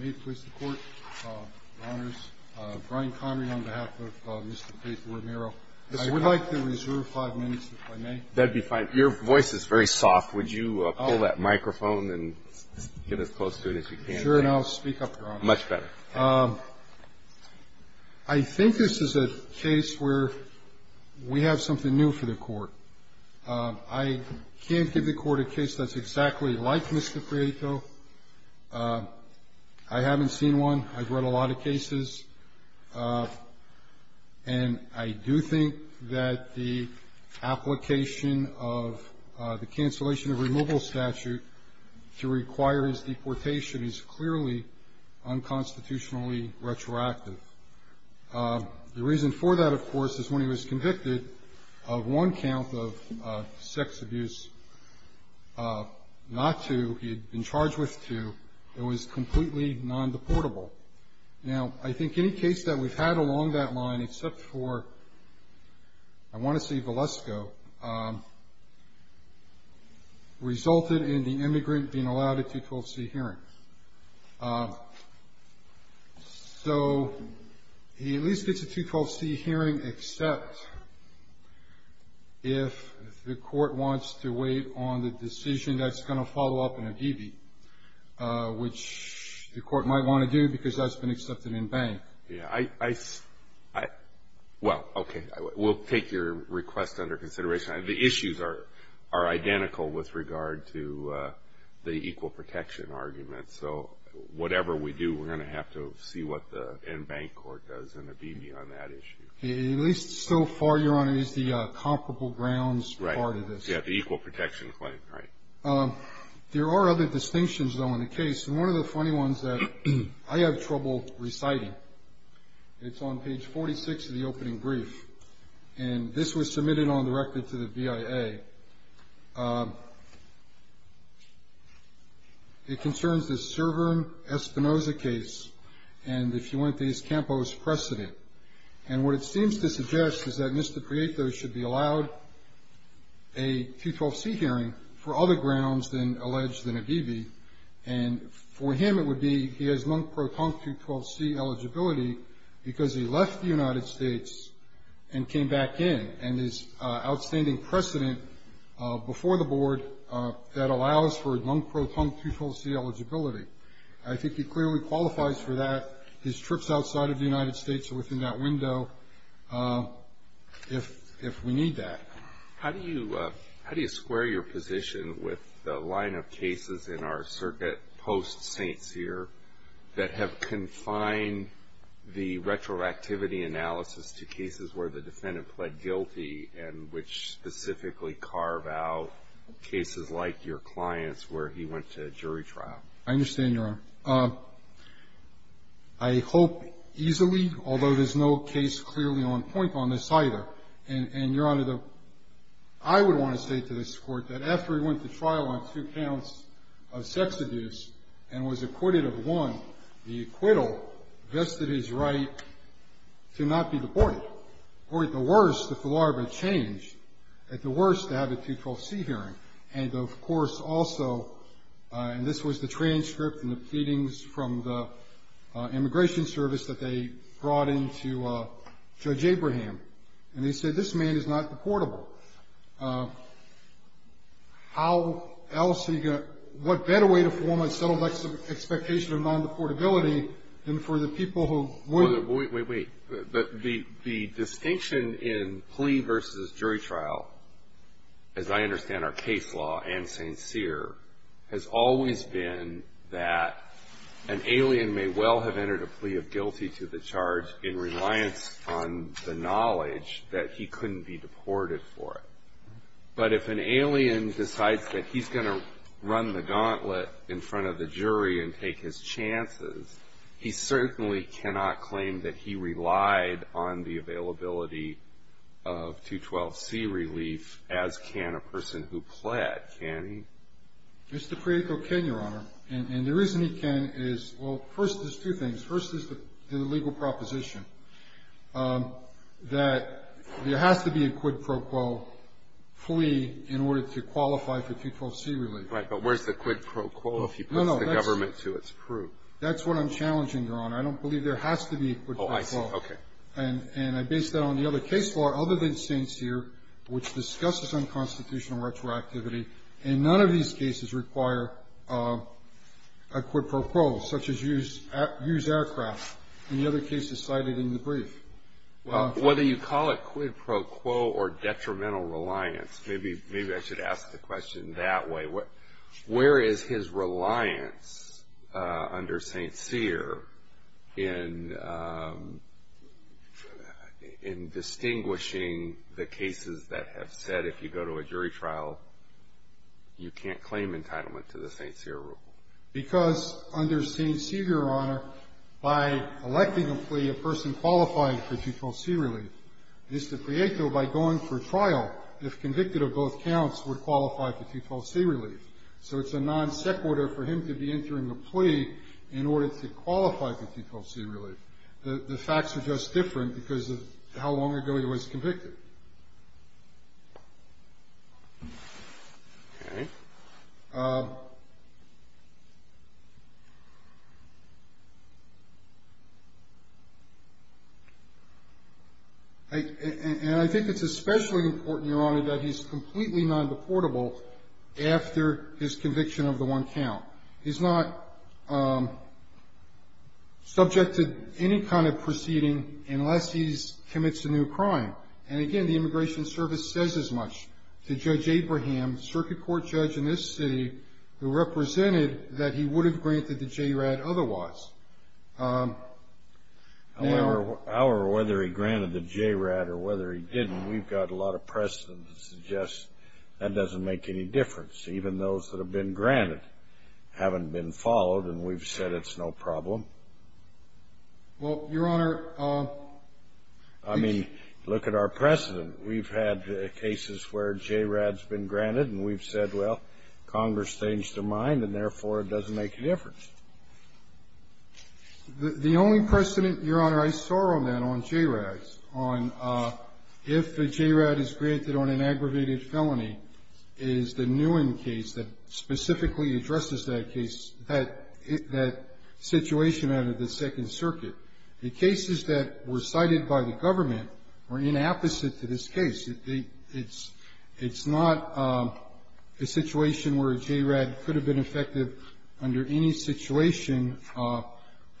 May it please the Court, Your Honors. Brian Connery on behalf of Mr. Prieto-Romero. I would like to reserve five minutes, if I may. That'd be fine. Your voice is very soft. Would you pull that microphone and get as close to it as you can? Sure, and I'll speak up, Your Honor. Much better. I think this is a case where we have something new for the Court. I can't give the Court a case that's exactly like Mr. Prieto. I haven't seen one. I've read a lot of cases. And I do think that the application of the cancellation of removal statute to require his deportation is clearly unconstitutionally retroactive. The reason for that, of course, is when he was convicted of one count of sex abuse, not two. He had been charged with two. It was completely non-deportable. Now, I think any case that we've had along that line, except for I want to see Valesko, resulted in the immigrant being allowed a 212C hearing. So he at least gets a 212C hearing, except if the Court wants to wait on the decision that's going to follow up in a DB, which the Court might want to do because that's been accepted in bank. Yeah, I, well, okay, we'll take your request under consideration. The issues are identical with regard to the equal protection argument. So whatever we do, we're going to have to see what the in-bank court does in a DB on that issue. At least so far, Your Honor, it is the comparable grounds part of this. Right, yeah, the equal protection claim, right. There are other distinctions, though, in the case. And one of the funny ones that I have trouble reciting, it's on page 46 of the opening brief. And this was submitted on directly to the BIA. It concerns the Cervern-Espinoza case and the Fuentes-Campos precedent. And what it seems to suggest is that Mr. Prieto should be allowed a 212C hearing for other grounds than alleged in a DB. And for him it would be he has non-proton 212C eligibility because he left the United States and came back in, and his outstanding precedent before the Board that allows for non-proton 212C eligibility. I think he clearly qualifies for that. His trips outside of the United States are within that window if we need that. How do you square your position with the line of cases in our circuit post-St. Cyr that have confined the retroactivity analysis to cases where the defendant pled guilty and which specifically carve out cases like your client's where he went to jury trial? I understand, Your Honor. I hope easily, although there's no case clearly on point on this either. And, Your Honor, I would want to say to this Court that after he went to trial on two counts of sex abuse and was acquitted of one, the acquittal vested his right to not be deported. Or at the worst, if the law ever changed, at the worst, to have a 212C hearing. And, of course, also, and this was the transcript and the pleadings from the Immigration Service that they brought in to Judge Abraham. And they said this man is not deportable. How else are you going to, what better way to form a settled expectation of non-deportability than for the people who would? Wait, wait, wait. The distinction in plea versus jury trial, as I understand our case law and St. Cyr, has always been that an alien may well have entered a plea of guilty to the charge in reliance on the knowledge that he couldn't be deported for it. But if an alien decides that he's going to run the gauntlet in front of the jury and take his chances, he certainly cannot claim that he relied on the availability of 212C relief as can a person who pled. Can he? Mr. Prieto can, Your Honor. And the reason he can is, well, first, there's two things. First is the legal proposition that there has to be a quid pro quo plea in order to qualify for 212C relief. Right. But where's the quid pro quo if he puts the government to its proof? That's what I'm challenging, Your Honor. I don't believe there has to be a quid pro quo. Oh, I see. Okay. And I base that on the other case law other than St. Cyr, which discusses unconstitutional retroactivity. And none of these cases require a quid pro quo, such as use aircraft. And the other case is cited in the brief. Whether you call it quid pro quo or detrimental reliance, maybe I should ask the question that way. Where is his reliance under St. Cyr in distinguishing the cases that have said if you go to a jury trial, you can't claim entitlement to the St. Cyr rule? Because under St. Cyr, Your Honor, by electing a plea, a person qualified for 212C relief. Mr. Prieto, by going for trial, if convicted of both counts, would qualify for 212C relief. So it's a non sequitur for him to be entering a plea in order to qualify for 212C relief. The facts are just different because of how long ago he was convicted. Okay. And I think it's especially important, Your Honor, that he's completely non-deportable after his conviction of the one count. He's not subject to any kind of proceeding unless he commits a new crime. And, again, the Immigration Service says as much to Judge Abraham, circuit court judge in this city, who represented that he would have granted the JRAD otherwise. However, whether he granted the JRAD or whether he didn't, we've got a lot of precedent to suggest that doesn't make any difference. Even those that have been granted haven't been followed, and we've said it's no problem. Well, Your Honor, I mean, look at our precedent. We've had cases where JRAD has been granted, and we've said, well, Congress changed their mind, and, therefore, it doesn't make a difference. The only precedent, Your Honor, I saw on that, on JRADs, on if a JRAD is granted on an aggravated felony, is the Nguyen case that specifically addresses that case, that situation out of the Second Circuit. The cases that were cited by the government were inapposite to this case. It's not a situation where a JRAD could have been effective under any situation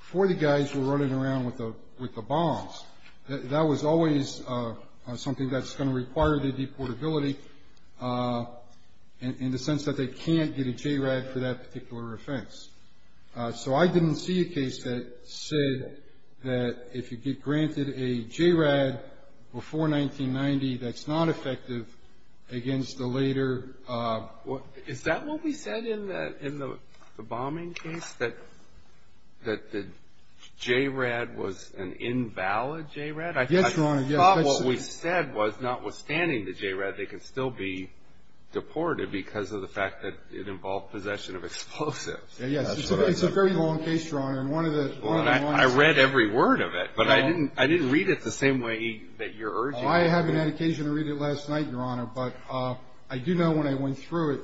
before the guys were running around with the bombs. That was always something that's going to require the deportability in the sense that they can't get a JRAD for that particular offense. So I didn't see a case that said that if you get granted a JRAD before 1990, that's not effective against the later. Is that what we said in the bombing case, that the JRAD was an invalid JRAD? Yes, Your Honor. I thought what we said was, notwithstanding the JRAD, they could still be deported because of the fact that it involved possession of explosives. Yes, it's a very long case, Your Honor. I read every word of it, but I didn't read it the same way that you're urging me to. Well, I haven't had occasion to read it last night, Your Honor, but I do know when I went through it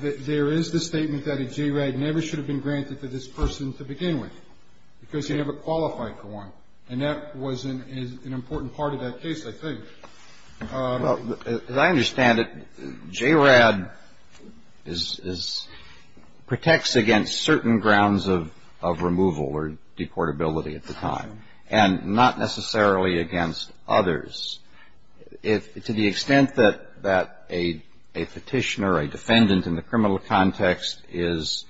that there is the statement that a JRAD never should have been granted to this person to begin with because he never qualified for one. And that was an important part of that case, I think. As I understand it, JRAD protects against certain grounds of removal or deportability at the time and not necessarily against others. To the extent that a petitioner, a defendant in the criminal context, is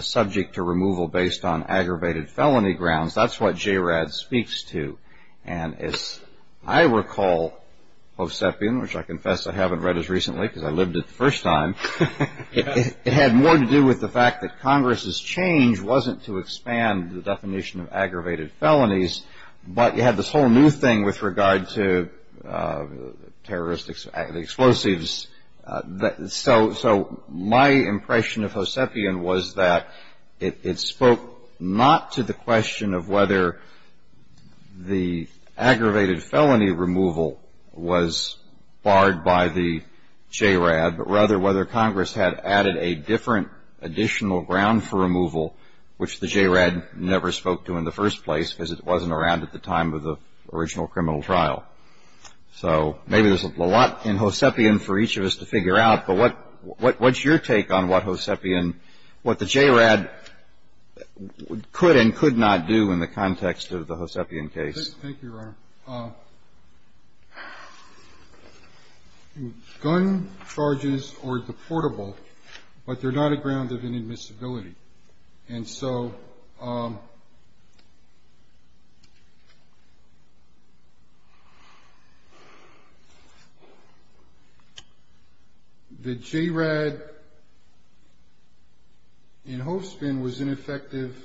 subject to removal based on aggravated felony grounds, that's what JRAD speaks to. And as I recall, Hosepian, which I confess I haven't read as recently because I lived it the first time, it had more to do with the fact that Congress's change wasn't to expand the definition of aggravated felonies, but you had this whole new thing with regard to the explosives. So my impression of Hosepian was that it spoke not to the question of whether the aggravated felony removal was barred by the JRAD, but rather whether Congress had added a different additional ground for removal, which the JRAD never spoke to in the first place because it wasn't around at the time of the original criminal trial. So maybe there's a lot in Hosepian for each of us to figure out, but what's your take on what Hosepian, what the JRAD could and could not do in the context of the Hosepian case? Thank you, Your Honor. Gun charges or deportable, but they're not a ground of inadmissibility. And so the JRAD in Hosepian was ineffective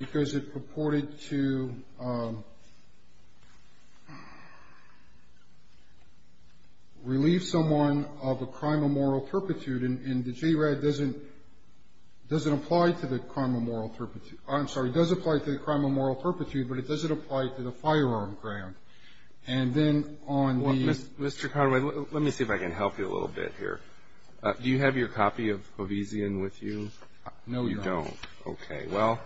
because it purported to relieve someone of a crime of moral turpitude, and the JRAD doesn't apply to the crime of moral turpitude. I'm sorry. It does apply to the crime of moral turpitude, but it doesn't apply to the firearm ground. And then on the ---- Mr. Conway, let me see if I can help you a little bit here. Do you have your copy of Hosepian with you? No, Your Honor. You don't. Okay. Well,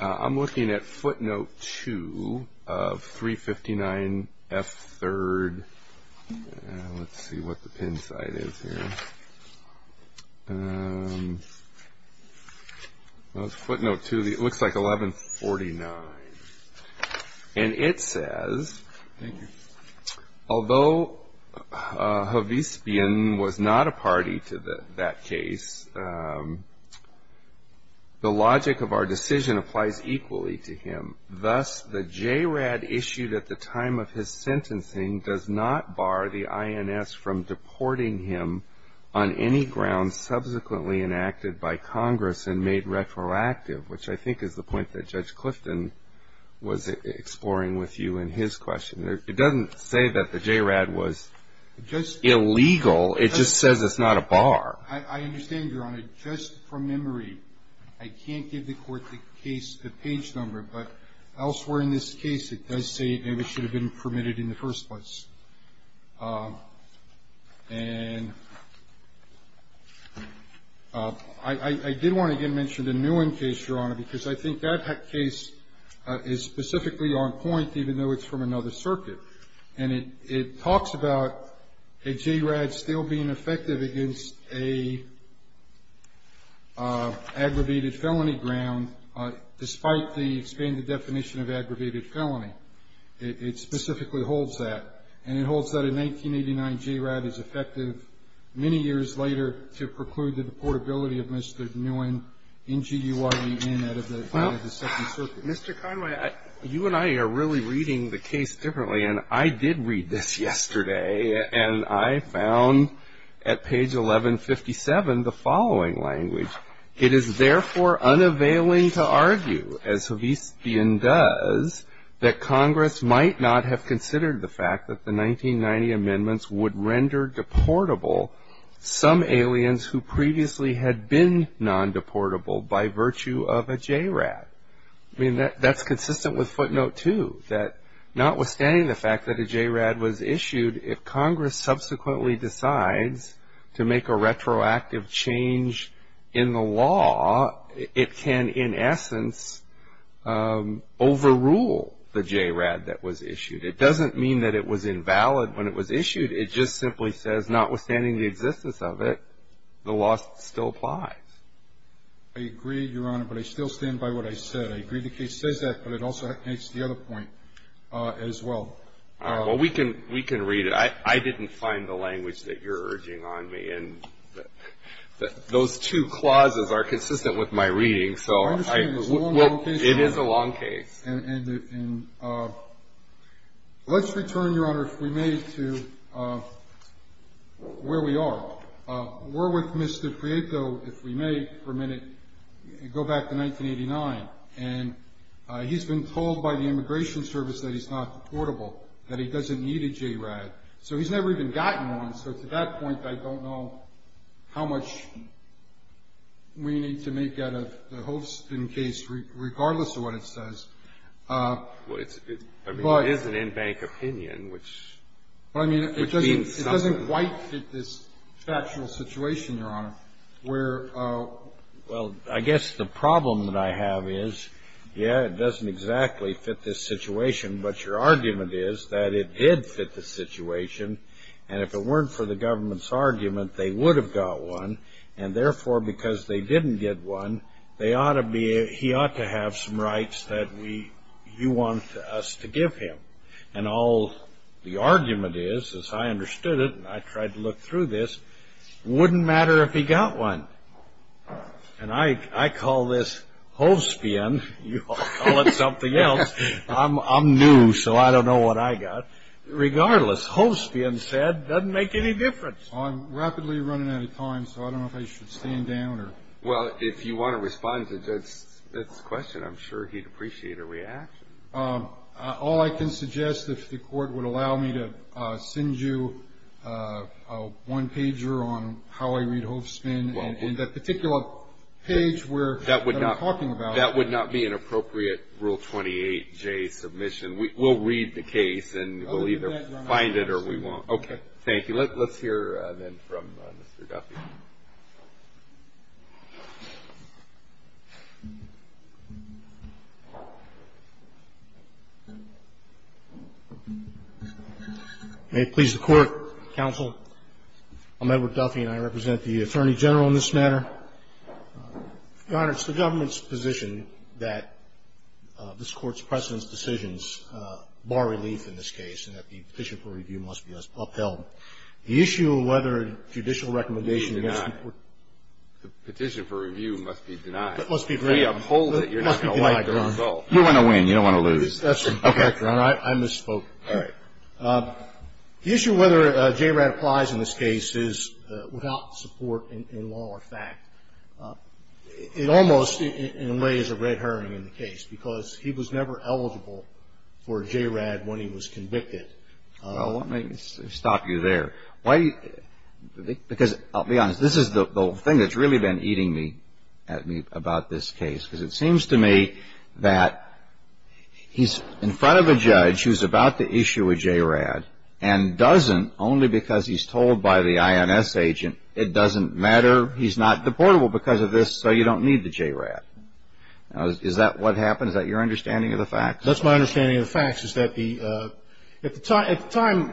I'm looking at footnote 2 of 359F3rd. Let's see what the pin side is here. Footnote 2, it looks like 1149. And it says, Thank you. Although Hosepian was not a party to that case, the logic of our decision applies equally to him. Thus, the JRAD issued at the time of his sentencing does not bar the INS from deporting him on any ground subsequently enacted by Congress and made retroactive, which I think is the point that Judge Clifton was exploring with you in his question. It doesn't say that the JRAD was illegal. It just says it's not a bar. I understand, Your Honor. But just from memory, I can't give the Court the case, the page number. But elsewhere in this case, it does say maybe it should have been permitted in the first place. And I did want to, again, mention the Nguyen case, Your Honor, because I think that case is specifically on point, even though it's from another circuit. And it talks about a JRAD still being effective against an aggravated felony ground, despite the expanded definition of aggravated felony. It specifically holds that. And it holds that a 1989 JRAD is effective many years later to preclude the deportability of Mr. Nguyen, N-G-U-I-E-N, out of the second circuit. Mr. Conway, you and I are really reading the case differently. And I did read this yesterday. And I found at page 1157 the following language. It is therefore unavailing to argue, as Havisbian does, that Congress might not have considered the fact that the 1990 amendments would render deportable some aliens who previously had been non-deportable by virtue of a JRAD. I mean, that's consistent with footnote two, that notwithstanding the fact that a JRAD was issued, if Congress subsequently decides to make a retroactive change in the law, it can, in essence, overrule the JRAD that was issued. It doesn't mean that it was invalid when it was issued. It just simply says, notwithstanding the existence of it, the law still applies. I agree, Your Honor, but I still stand by what I said. I agree the case says that, but it also makes the other point as well. All right. Well, we can read it. I didn't find the language that you're urging on me. And those two clauses are consistent with my reading. So it is a long case. And let's return, Your Honor, if we may, to where we are. We're with Mr. Prieto, if we may, for a minute. Go back to 1989. And he's been told by the Immigration Service that he's not deportable, that he doesn't need a JRAD. So he's never even gotten one. So to that point, I don't know how much we need to make out of the Holston case, regardless of what it says. Well, it's an in-bank opinion, which means something. It doesn't quite fit this factual situation, Your Honor, where — Well, I guess the problem that I have is, yeah, it doesn't exactly fit this situation, but your argument is that it did fit the situation. And if it weren't for the government's argument, they would have got one. And therefore, because they didn't get one, they ought to be — he ought to have some rights that we — you want us to give him. And all the argument is, as I understood it, and I tried to look through this, wouldn't matter if he got one. And I call this Holstian. You all call it something else. I'm new, so I don't know what I got. Regardless, Holstian said, doesn't make any difference. I'm rapidly running out of time, so I don't know if I should stand down or — Well, if you want to respond to the judge's question, I'm sure he'd appreciate a reaction. All I can suggest, if the Court would allow me to send you a one-pager on how I read Holstian, and that particular page where — That would not —— that I'm talking about. That would not be an appropriate Rule 28J submission. We'll read the case, and we'll either find it or we won't. Okay. Thank you. Let's hear, then, from Mr. Duffy. May it please the Court, counsel. I'm Edward Duffy, and I represent the Attorney General in this matter. Your Honor, it's the government's position that this Court's precedence decisions in this case, and that the petition for review must be upheld. The issue of whether a judicial recommendation against — The petition for review must be denied. It must be denied. We uphold it. You're not going to like the result. You're going to win. You don't want to lose. Okay. Your Honor, I misspoke. The issue of whether JRAD applies in this case is without support in law or fact. It almost, in a way, is a red herring in the case, because he was never eligible for JRAD when he was convicted. Well, let me stop you there. Why — because, I'll be honest, this is the thing that's really been eating me at me about this case, because it seems to me that he's in front of a judge who's about to issue a JRAD and doesn't, only because he's told by the INS agent, it doesn't matter, he's not deportable because of this, so you don't need the JRAD. Now, is that what happened? Is that your understanding of the facts? That's my understanding of the facts, is that the — at the time,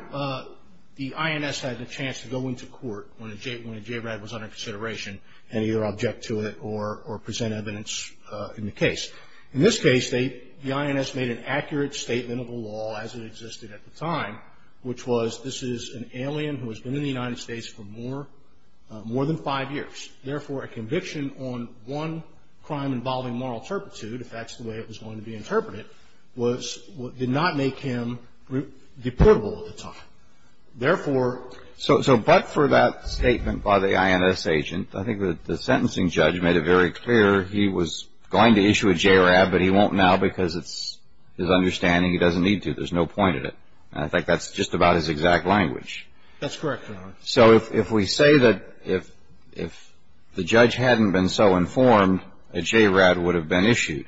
the INS had the chance to go into court when a JRAD was under consideration and either object to it or present evidence in the case. In this case, the INS made an accurate statement of the law as it existed at the time, which was this is an alien who has been in the United States for more than five years. Therefore, a conviction on one crime involving moral turpitude, if that's the way it was going to be interpreted, did not make him deportable at the time. Therefore — So but for that statement by the INS agent, I think the sentencing judge made it very clear he was going to issue a JRAD, but he won't now because it's his understanding he doesn't need to. There's no point in it. And I think that's just about his exact language. That's correct, Your Honor. So if we say that if the judge hadn't been so informed, a JRAD would have been issued,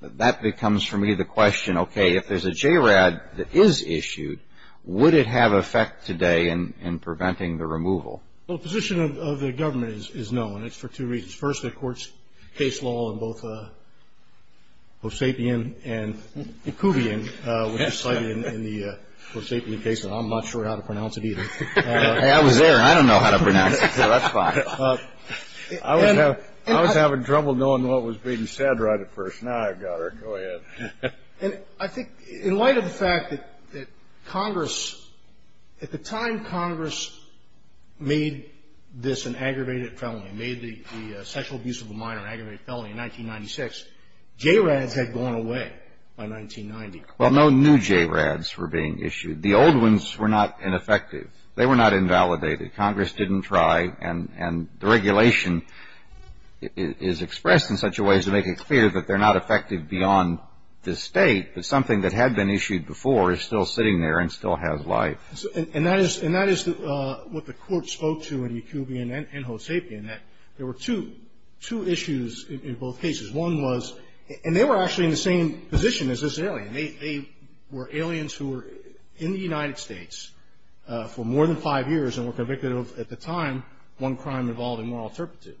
that becomes for me the question, okay, if there's a JRAD that is issued, would it have effect today in preventing the removal? Well, the position of the government is no, and it's for two reasons. First, the court's case law in both Hoseapian and Kuvian was decided in the Hoseapian case, and I'm not sure how to pronounce it either. I was there. I don't know how to pronounce it, so that's fine. I was having trouble knowing what was being said right at first. Now I've got it. Go ahead. And I think in light of the fact that Congress, at the time Congress made this an aggravated felony, made the sexual abuse of a minor an aggravated felony in 1996, JRADs had gone away by 1990. Well, no new JRADs were being issued. The old ones were not ineffective. They were not invalidated. Congress didn't try, and the regulation is expressed in such a way as to make it clear that they're not effective beyond this State, but something that had been issued before is still sitting there and still has life. And that is what the court spoke to in Kuvian and Hoseapian, that there were two issues in both cases. One was, and they were actually in the same position as this alien. They were aliens who were in the United States for more than five years and were convicted of, at the time, one crime involving moral turpitude.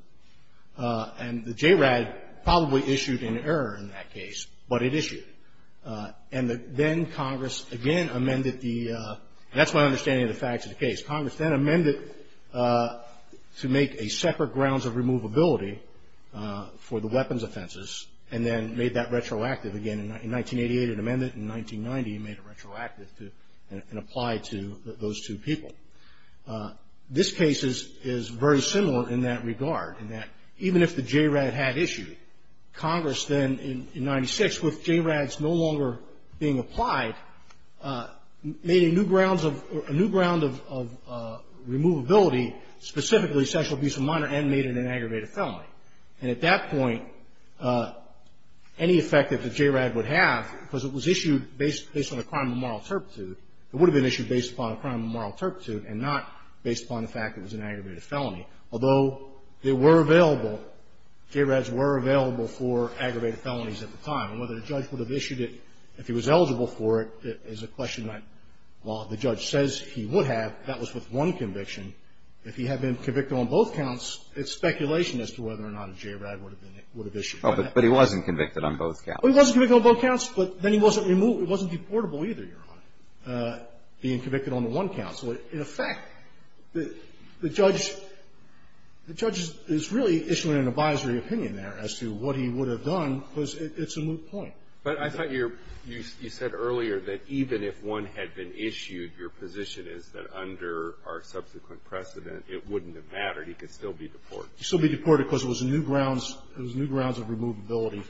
And the JRAD probably issued an error in that case, but it issued. And then Congress again amended the, that's my understanding of the facts of the case. Congress then amended to make a separate grounds of removability for the weapons offenses and then made that retroactive again in 1988, it amended it in 1990, and made it retroactive and applied to those two people. This case is very similar in that regard, in that even if the JRAD had issued, Congress then in 1996, with JRADs no longer being applied, made a new grounds of, a new ground of removability, specifically sexual abuse of a minor and made it an aggravated felony. And at that point, any effect that the JRAD would have, because it was issued based, based on a crime of moral turpitude, it would have been issued based upon a crime of moral turpitude and not based upon the fact that it was an aggravated felony. Although there were available, JRADs were available for aggravated felonies at the time. And whether the judge would have issued it, if he was eligible for it, is a question that while the judge says he would have, that was with one conviction. If he had been convicted on both counts, it's speculation as to whether or not a JRAD would have been, would have issued it. But he wasn't convicted on both counts. He wasn't convicted on both counts, but then he wasn't removed, he wasn't deportable either, Your Honor, being convicted on the one count. So in effect, the judge is really issuing an advisory opinion there as to what he would have done because it's a moot point. But I thought you said earlier that even if one had been issued, your position is that under our subsequent precedent, it wouldn't have mattered. He could still be deported. He could still be deported because it was new grounds, it was new grounds of removability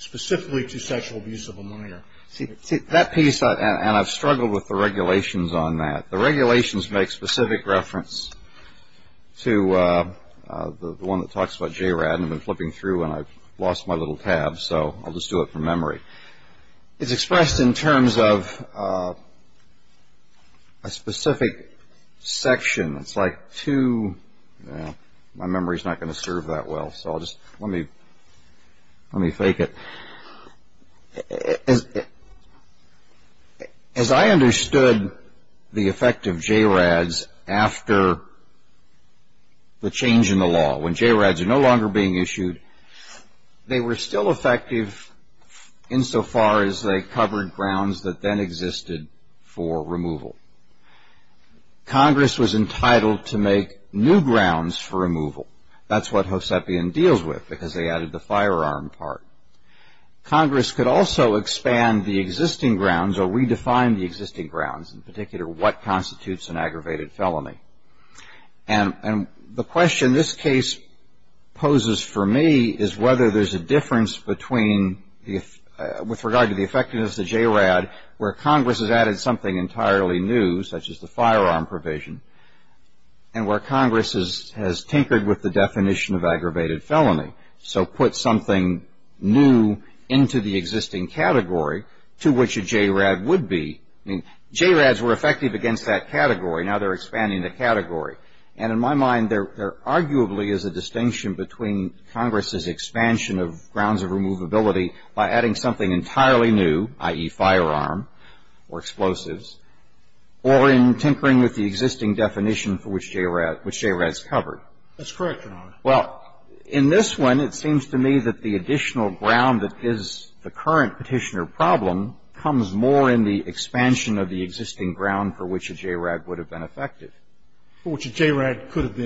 specifically to sexual abuse of a minor. See, that piece, and I've struggled with the regulations on that. The regulations make specific reference to the one that talks about JRAD. I've been flipping through and I've lost my little tab, so I'll just do it from memory. It's expressed in terms of a specific section. It's like two, my memory's not going to serve that well, so I'll just, let me, let me fake it. As I understood the effect of JRADs after the change in the law, when JRADs are no longer being issued, they were still effective insofar as they covered grounds that then existed for removal. Congress was entitled to make new grounds for removal. That's what Hosepian deals with, because they added the firearm part. Congress could also expand the existing grounds or redefine the existing grounds, in particular what constitutes an aggravated felony. And the question this case poses for me is whether there's a difference between, with regard to the effectiveness of JRAD, where Congress has added something entirely new, such as the firearm provision, and where Congress has tinkered with the definition of aggravated felony. So put something new into the existing category to which a JRAD would be. I mean, JRADs were effective against that category. Now they're expanding the category. And in my mind, there arguably is a distinction between Congress's expansion of grounds of removability by adding something entirely new, i.e., firearm or explosives, or in tinkering with the existing definition for which JRAD's covered. That's correct, Your Honor. Well, in this one, it seems to me that the additional ground that is the current Petitioner problem comes more in the expansion of the existing ground for which a JRAD would have been effective. Which a JRAD could have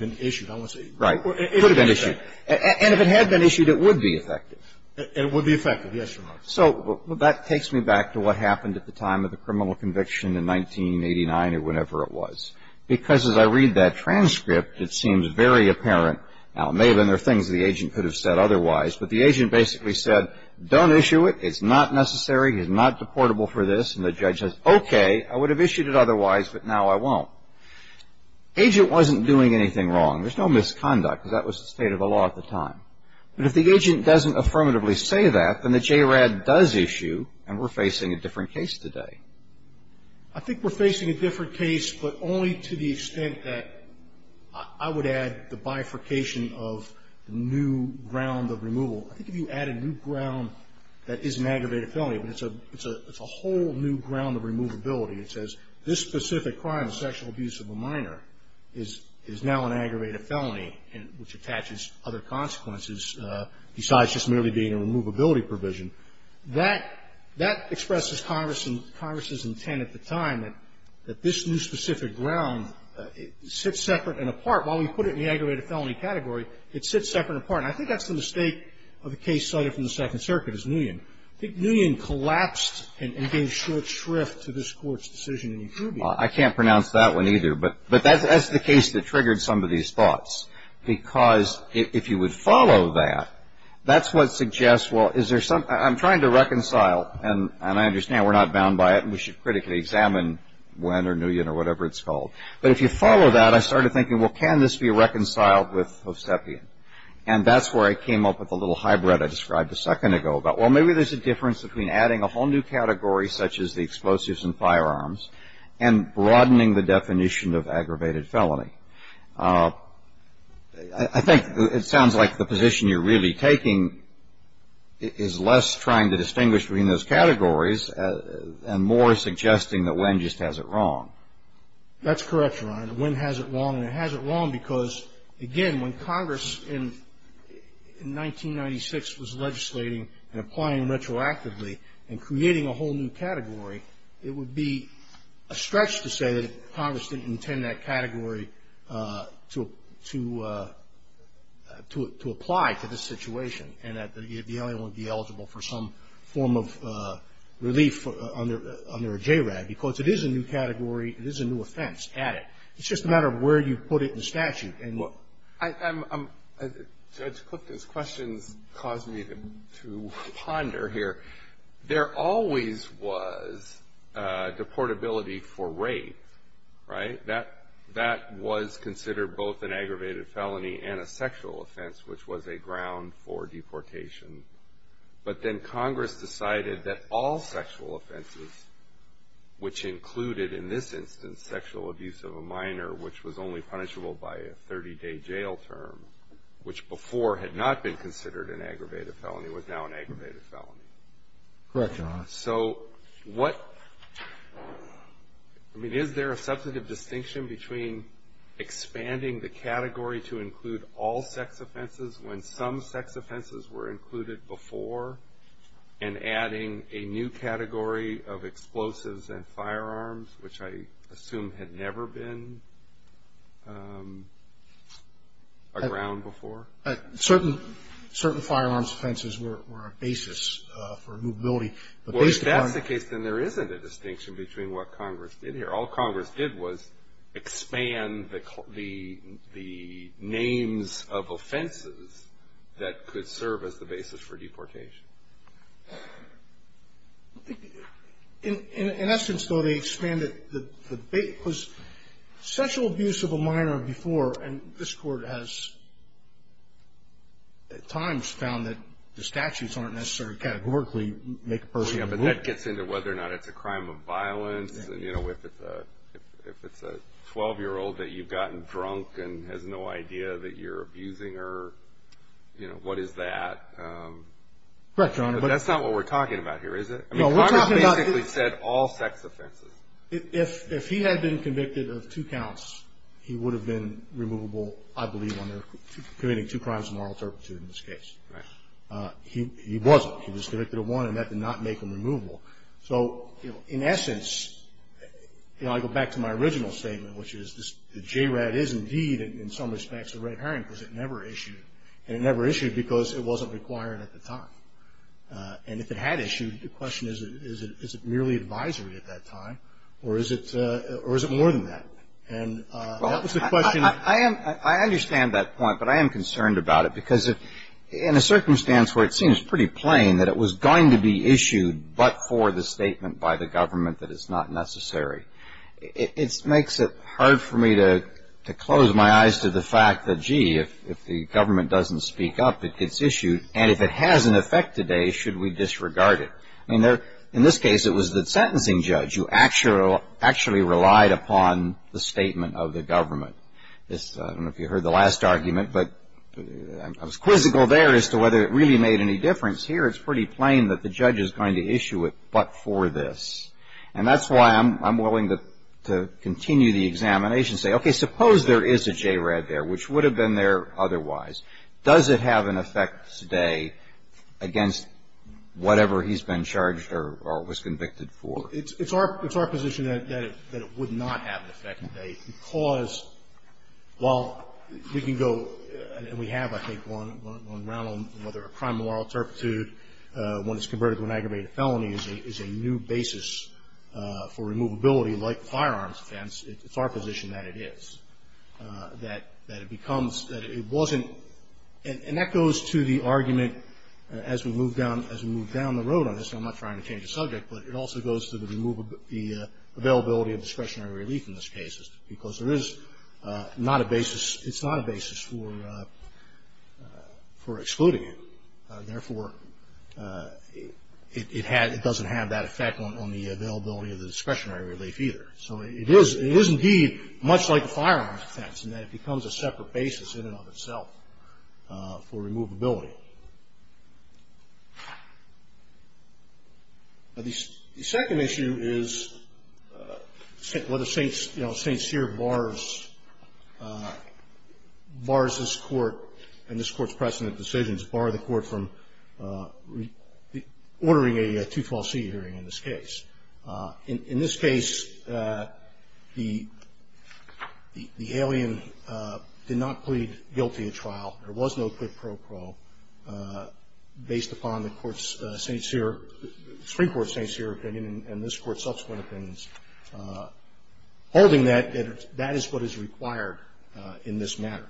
been issued, I want to say. Right. Could have been issued. And if it had been issued, it would be effective. It would be effective, yes, Your Honor. So that takes me back to what happened at the time of the criminal conviction in 1989 or whenever it was. Because as I read that transcript, it seems very apparent. Now, maybe there are things the agent could have said otherwise, but the agent basically said, don't issue it. It's not necessary. It is not deportable for this. And the judge says, okay, I would have issued it otherwise, but now I won't. Agent wasn't doing anything wrong. There's no misconduct, because that was the state of the law at the time. But if the agent doesn't affirmatively say that, then the JRAD does issue, and we're facing a different case today. I think we're facing a different case, but only to the extent that I would add the bifurcation of the new ground of removal. I think if you add a new ground that is an aggravated felony, but it's a whole new ground of removability. It says, this specific crime of sexual abuse of a minor is now an aggravated felony, which attaches other consequences besides just merely being a removability provision. That expresses Congress's intent at the time that this new specific ground sits separate and apart. While we put it in the aggravated felony category, it sits separate and apart. And I think that's the mistake of the case cited from the Second Circuit, is Nguyen. I think Nguyen collapsed and gave short shrift to this Court's decision. I can't pronounce that one, either. But that's the case that triggered some of these thoughts, because if you would follow that, that's what suggests, well, is there some – I'm trying to reconcile – and I understand we're not bound by it, and we should critically examine Nguyen or whatever it's called. But if you follow that, I started thinking, well, can this be reconciled with Hovsepian? And that's where I came up with the little hybrid I described a second ago about, well, maybe there's a difference between adding a whole new category, such as the explosives and firearms, and broadening the definition of aggravated felony. I think it sounds like the position you're really taking is less trying to distinguish between those categories and more suggesting that Nguyen just has it wrong. That's correct, Your Honor. Nguyen has it wrong, and it has it wrong because, again, when Congress in 1996 was legislating and applying retroactively and creating a whole new category, it would be a stretch to say that Congress didn't intend that category to apply to this situation and that the alien would be eligible for some form of relief under a JRAD, because it is a new category. It is a new offense. Add it. It's just a matter of where you put it in statute. Judge Cook, those questions cause me to ponder here. There always was deportability for rape, right? That was considered both an aggravated felony and a sexual offense, which was a ground for deportation. But then Congress decided that all sexual offenses, which included, in this instance, sexual abuse of a minor, which was only punishable by a 30-day jail term, which before had not been considered an aggravated felony, was now an aggravated felony. Correct, Your Honor. So what – I mean, is there a substantive distinction between expanding the category to include all sex offenses when some sex offenses were included before and adding a new category of explosives and firearms, which I assume had never been a ground before? Certain firearms offenses were a basis for movability. Well, if that's the case, then there isn't a distinction between what Congress did here. All Congress did was expand the names of offenses that could serve as the basis for deportation. In essence, though, they expanded – the debate was sexual abuse of a minor before, and this Court has at times found that the statutes aren't necessarily categorically make a person – Yeah, but that gets into whether or not it's a crime of violence. You know, if it's a 12-year-old that you've gotten drunk and has no idea that you're abusing her, Correct, Your Honor. But that's not what we're talking about here, is it? No, we're talking about – Congress basically said all sex offenses. If he had been convicted of two counts, he would have been removable, I believe, on committing two crimes of moral turpitude in this case. Right. He wasn't. He was convicted of one, and that did not make him removable. So, you know, in essence – you know, I go back to my original statement, which is the JRAD is indeed, in some respects, a red herring because it never issued, and it never issued because it wasn't required at the time. And if it had issued, the question is, is it merely advisory at that time, or is it more than that? And that was the question – I understand that point, but I am concerned about it because in a circumstance where it seems pretty plain that it was going to be issued but for the statement by the government that it's not necessary, it makes it hard for me to close my eyes to the fact that, gee, if the government doesn't speak up, it gets issued, and if it has an effect today, should we disregard it? In this case, it was the sentencing judge who actually relied upon the statement of the government. I don't know if you heard the last argument, but I was quizzical there as to whether it really made any difference. Here, it's pretty plain that the judge is going to issue it but for this. And that's why I'm willing to continue the examination and say, okay, suppose there is a JRAD there, which would have been there otherwise. Does it have an effect today against whatever he's been charged or was convicted for? It's our position that it would not have an effect today because while we can go and we have, I think, one round on whether a crime of moral turpitude when it's converted to an aggravated felony is a new basis for removability like firearms offense, it's our position that it is, that it becomes, that it wasn't. And that goes to the argument, as we move down the road on this, and I'm not trying to change the subject, but it also goes to the availability of discretionary relief in this case because there is not a basis, it's not a basis for excluding it. Therefore, it doesn't have that effect on the availability of the discretionary relief either. So it is indeed much like a firearms offense in that it becomes a separate basis in and of itself for removability. The second issue is whether St. Cyr bars this court and this court's precedent decisions, bar the court from ordering a two-fall seat hearing in this case. In this case, the alien did not plead guilty at trial. There was no quid pro quo based upon the Supreme Court's St. Cyr opinion and this court's subsequent opinions. Holding that, that is what is required in this matter.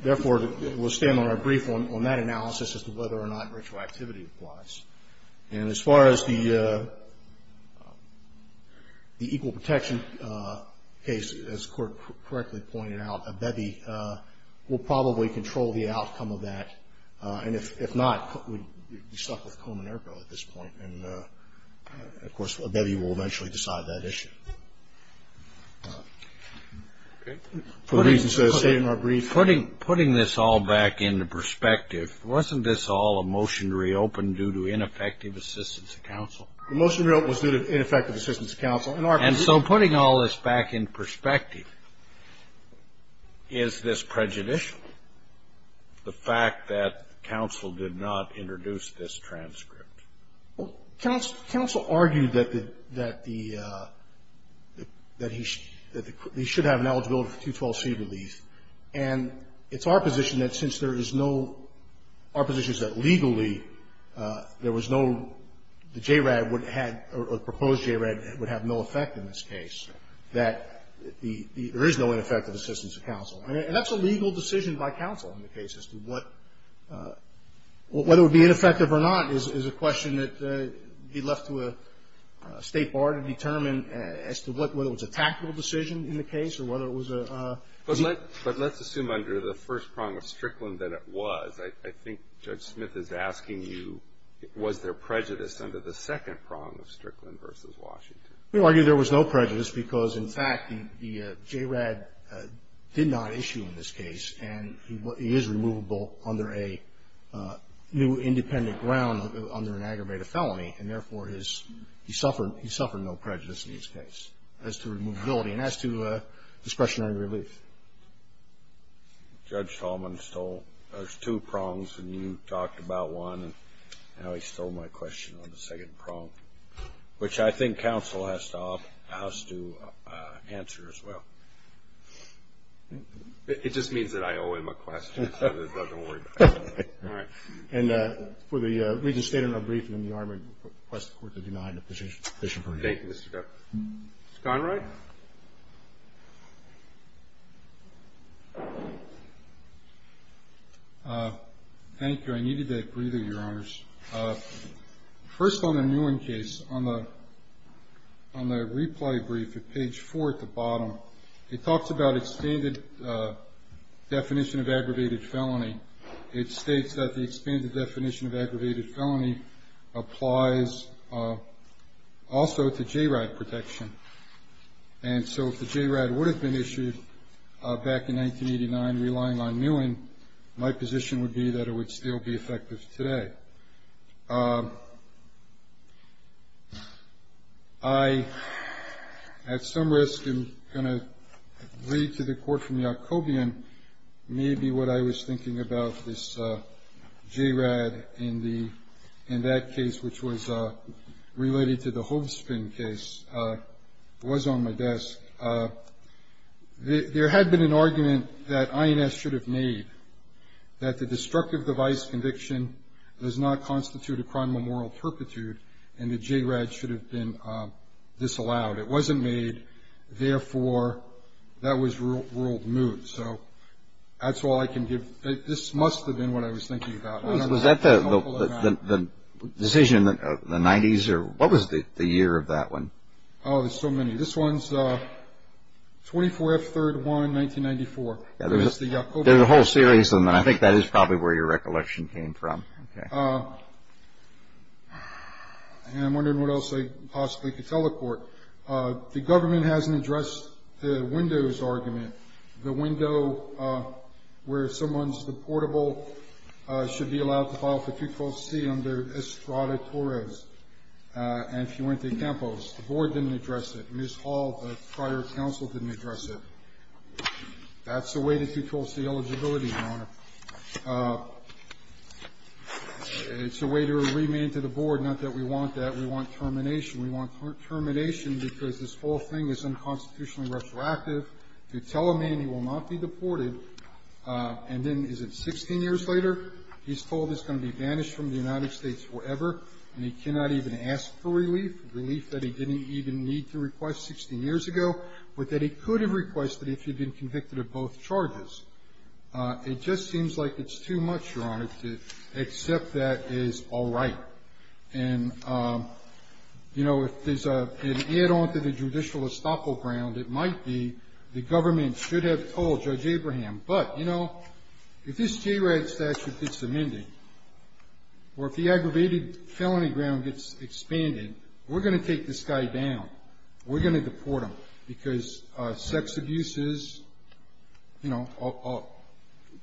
Therefore, we'll stand on our brief on that analysis as to whether or not retroactivity applies. And as far as the equal protection case, as the court correctly pointed out, Abebe will probably control the outcome of that. And if not, we'd be stuck with Komen Erko at this point. And, of course, Abebe will eventually decide that issue. For the reasons I say in our brief. And putting this all back into perspective, wasn't this all a motion to reopen due to ineffective assistance of counsel? The motion to reopen was due to ineffective assistance of counsel. And so putting all this back in perspective, is this prejudicial, the fact that counsel did not introduce this transcript? Counsel argued that he should have an eligibility for two-fall seat relief. And it's our position that since there is no – our position is that legally there was no – the JRAD would have – or the proposed JRAD would have no effect in this case, that the – there is no ineffective assistance of counsel. And that's a legal decision by counsel in the case as to what – whether it would be ineffective or not is a question that would be left to a State bar to determine as to what – whether it was a tactical decision in the case or whether it was a – But let's assume under the first prong of Strickland that it was. I think Judge Smith is asking you, was there prejudice under the second prong of Strickland v. Washington? We argue there was no prejudice because, in fact, the JRAD did not issue in this case. And he is removable under a new independent ground under an aggravated felony. And, therefore, he suffered no prejudice in this case as to removability and as to discretionary relief. Judge Tallman stole – there's two prongs, and you talked about one, and now he stole my question on the second prong, which I think counsel has to answer as well. It just means that I owe him a question so that he doesn't worry about it. All right. And for the reason stated in our briefing, the Army requests the Court to deny the position for review. Thank you, Mr. Depp. Mr. Conrad? Thank you. I needed that breather, Your Honors. First, on the Newen case, on the replay brief at page 4 at the bottom, it talks about its standard definition of aggravated felony. It states that the expanded definition of aggravated felony applies also to JRAD protection. And so if the JRAD would have been issued back in 1989 relying on Newen, my position would be that it would still be effective today. I, at some risk, am going to read to the Court from Yacobian maybe what I was thinking about this JRAD in that case, which was related to the Hobsbawm case. It was on my desk. There had been an argument that INS should have made, that the destructive device conviction does not constitute a criminal moral perpetuate and the JRAD should have been disallowed. It wasn't made. Therefore, that was ruled moot. So that's all I can give. This must have been what I was thinking about. Was that the decision of the 90s? Or what was the year of that one? Oh, there's so many. This one's 24th, 3rd, 1, 1994. There's a whole series of them, and I think that is probably where your recollection came from. Okay. I'm wondering what else I possibly could tell the Court. The government hasn't addressed the windows argument, the window where someone's, the portable should be allowed to file for 2-4-C under Estrada-Torres and Fuente-Campos. The Board didn't address it. Ms. Hall, the prior counsel, didn't address it. That's the way to 2-4-C eligibility, Your Honor. It's a way to remand to the Board, not that we want that. We want termination. We want termination because this whole thing is unconstitutionally retroactive to tell a man he will not be deported, and then is it 16 years later? He's told he's going to be banished from the United States forever, and he cannot even ask for relief, relief that he didn't even need to request 16 years ago, but that he could have requested if he'd been convicted of both charges. It just seems like it's too much, Your Honor, to accept that as all right. And, you know, if there's an add-on to the judicial estoppel ground, it might be the government should have told Judge Abraham, but, you know, if this JRAD statute gets amended or if the aggravated felony ground gets expanded, we're going to take this guy down. We're going to deport him because sex abuses, you know,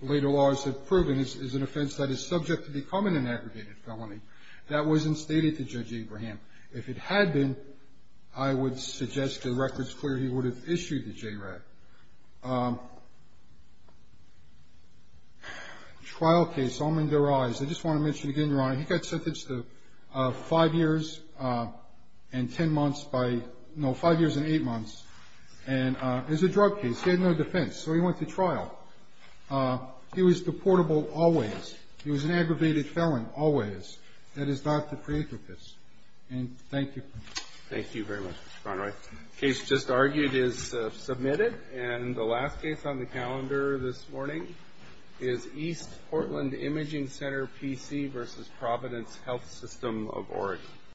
later laws have proven is an offense that is subject to becoming an aggregated felony. That wasn't stated to Judge Abraham. If it had been, I would suggest to the record it's clear he would have issued the JRAD. Trial case, almond to their eyes. I just want to mention again, Your Honor, he got sentenced to five years and ten months by, no, five years and eight months. And it was a drug case. He had no defense, so he went to trial. He was deportable always. He was an aggravated felon always. That is not the pre-emptive case. And thank you. Thank you very much, Mr. Conroy. The case just argued is submitted. And the last case on the calendar this morning is East Portland Imaging Center, PC v. Providence Health System of Oregon.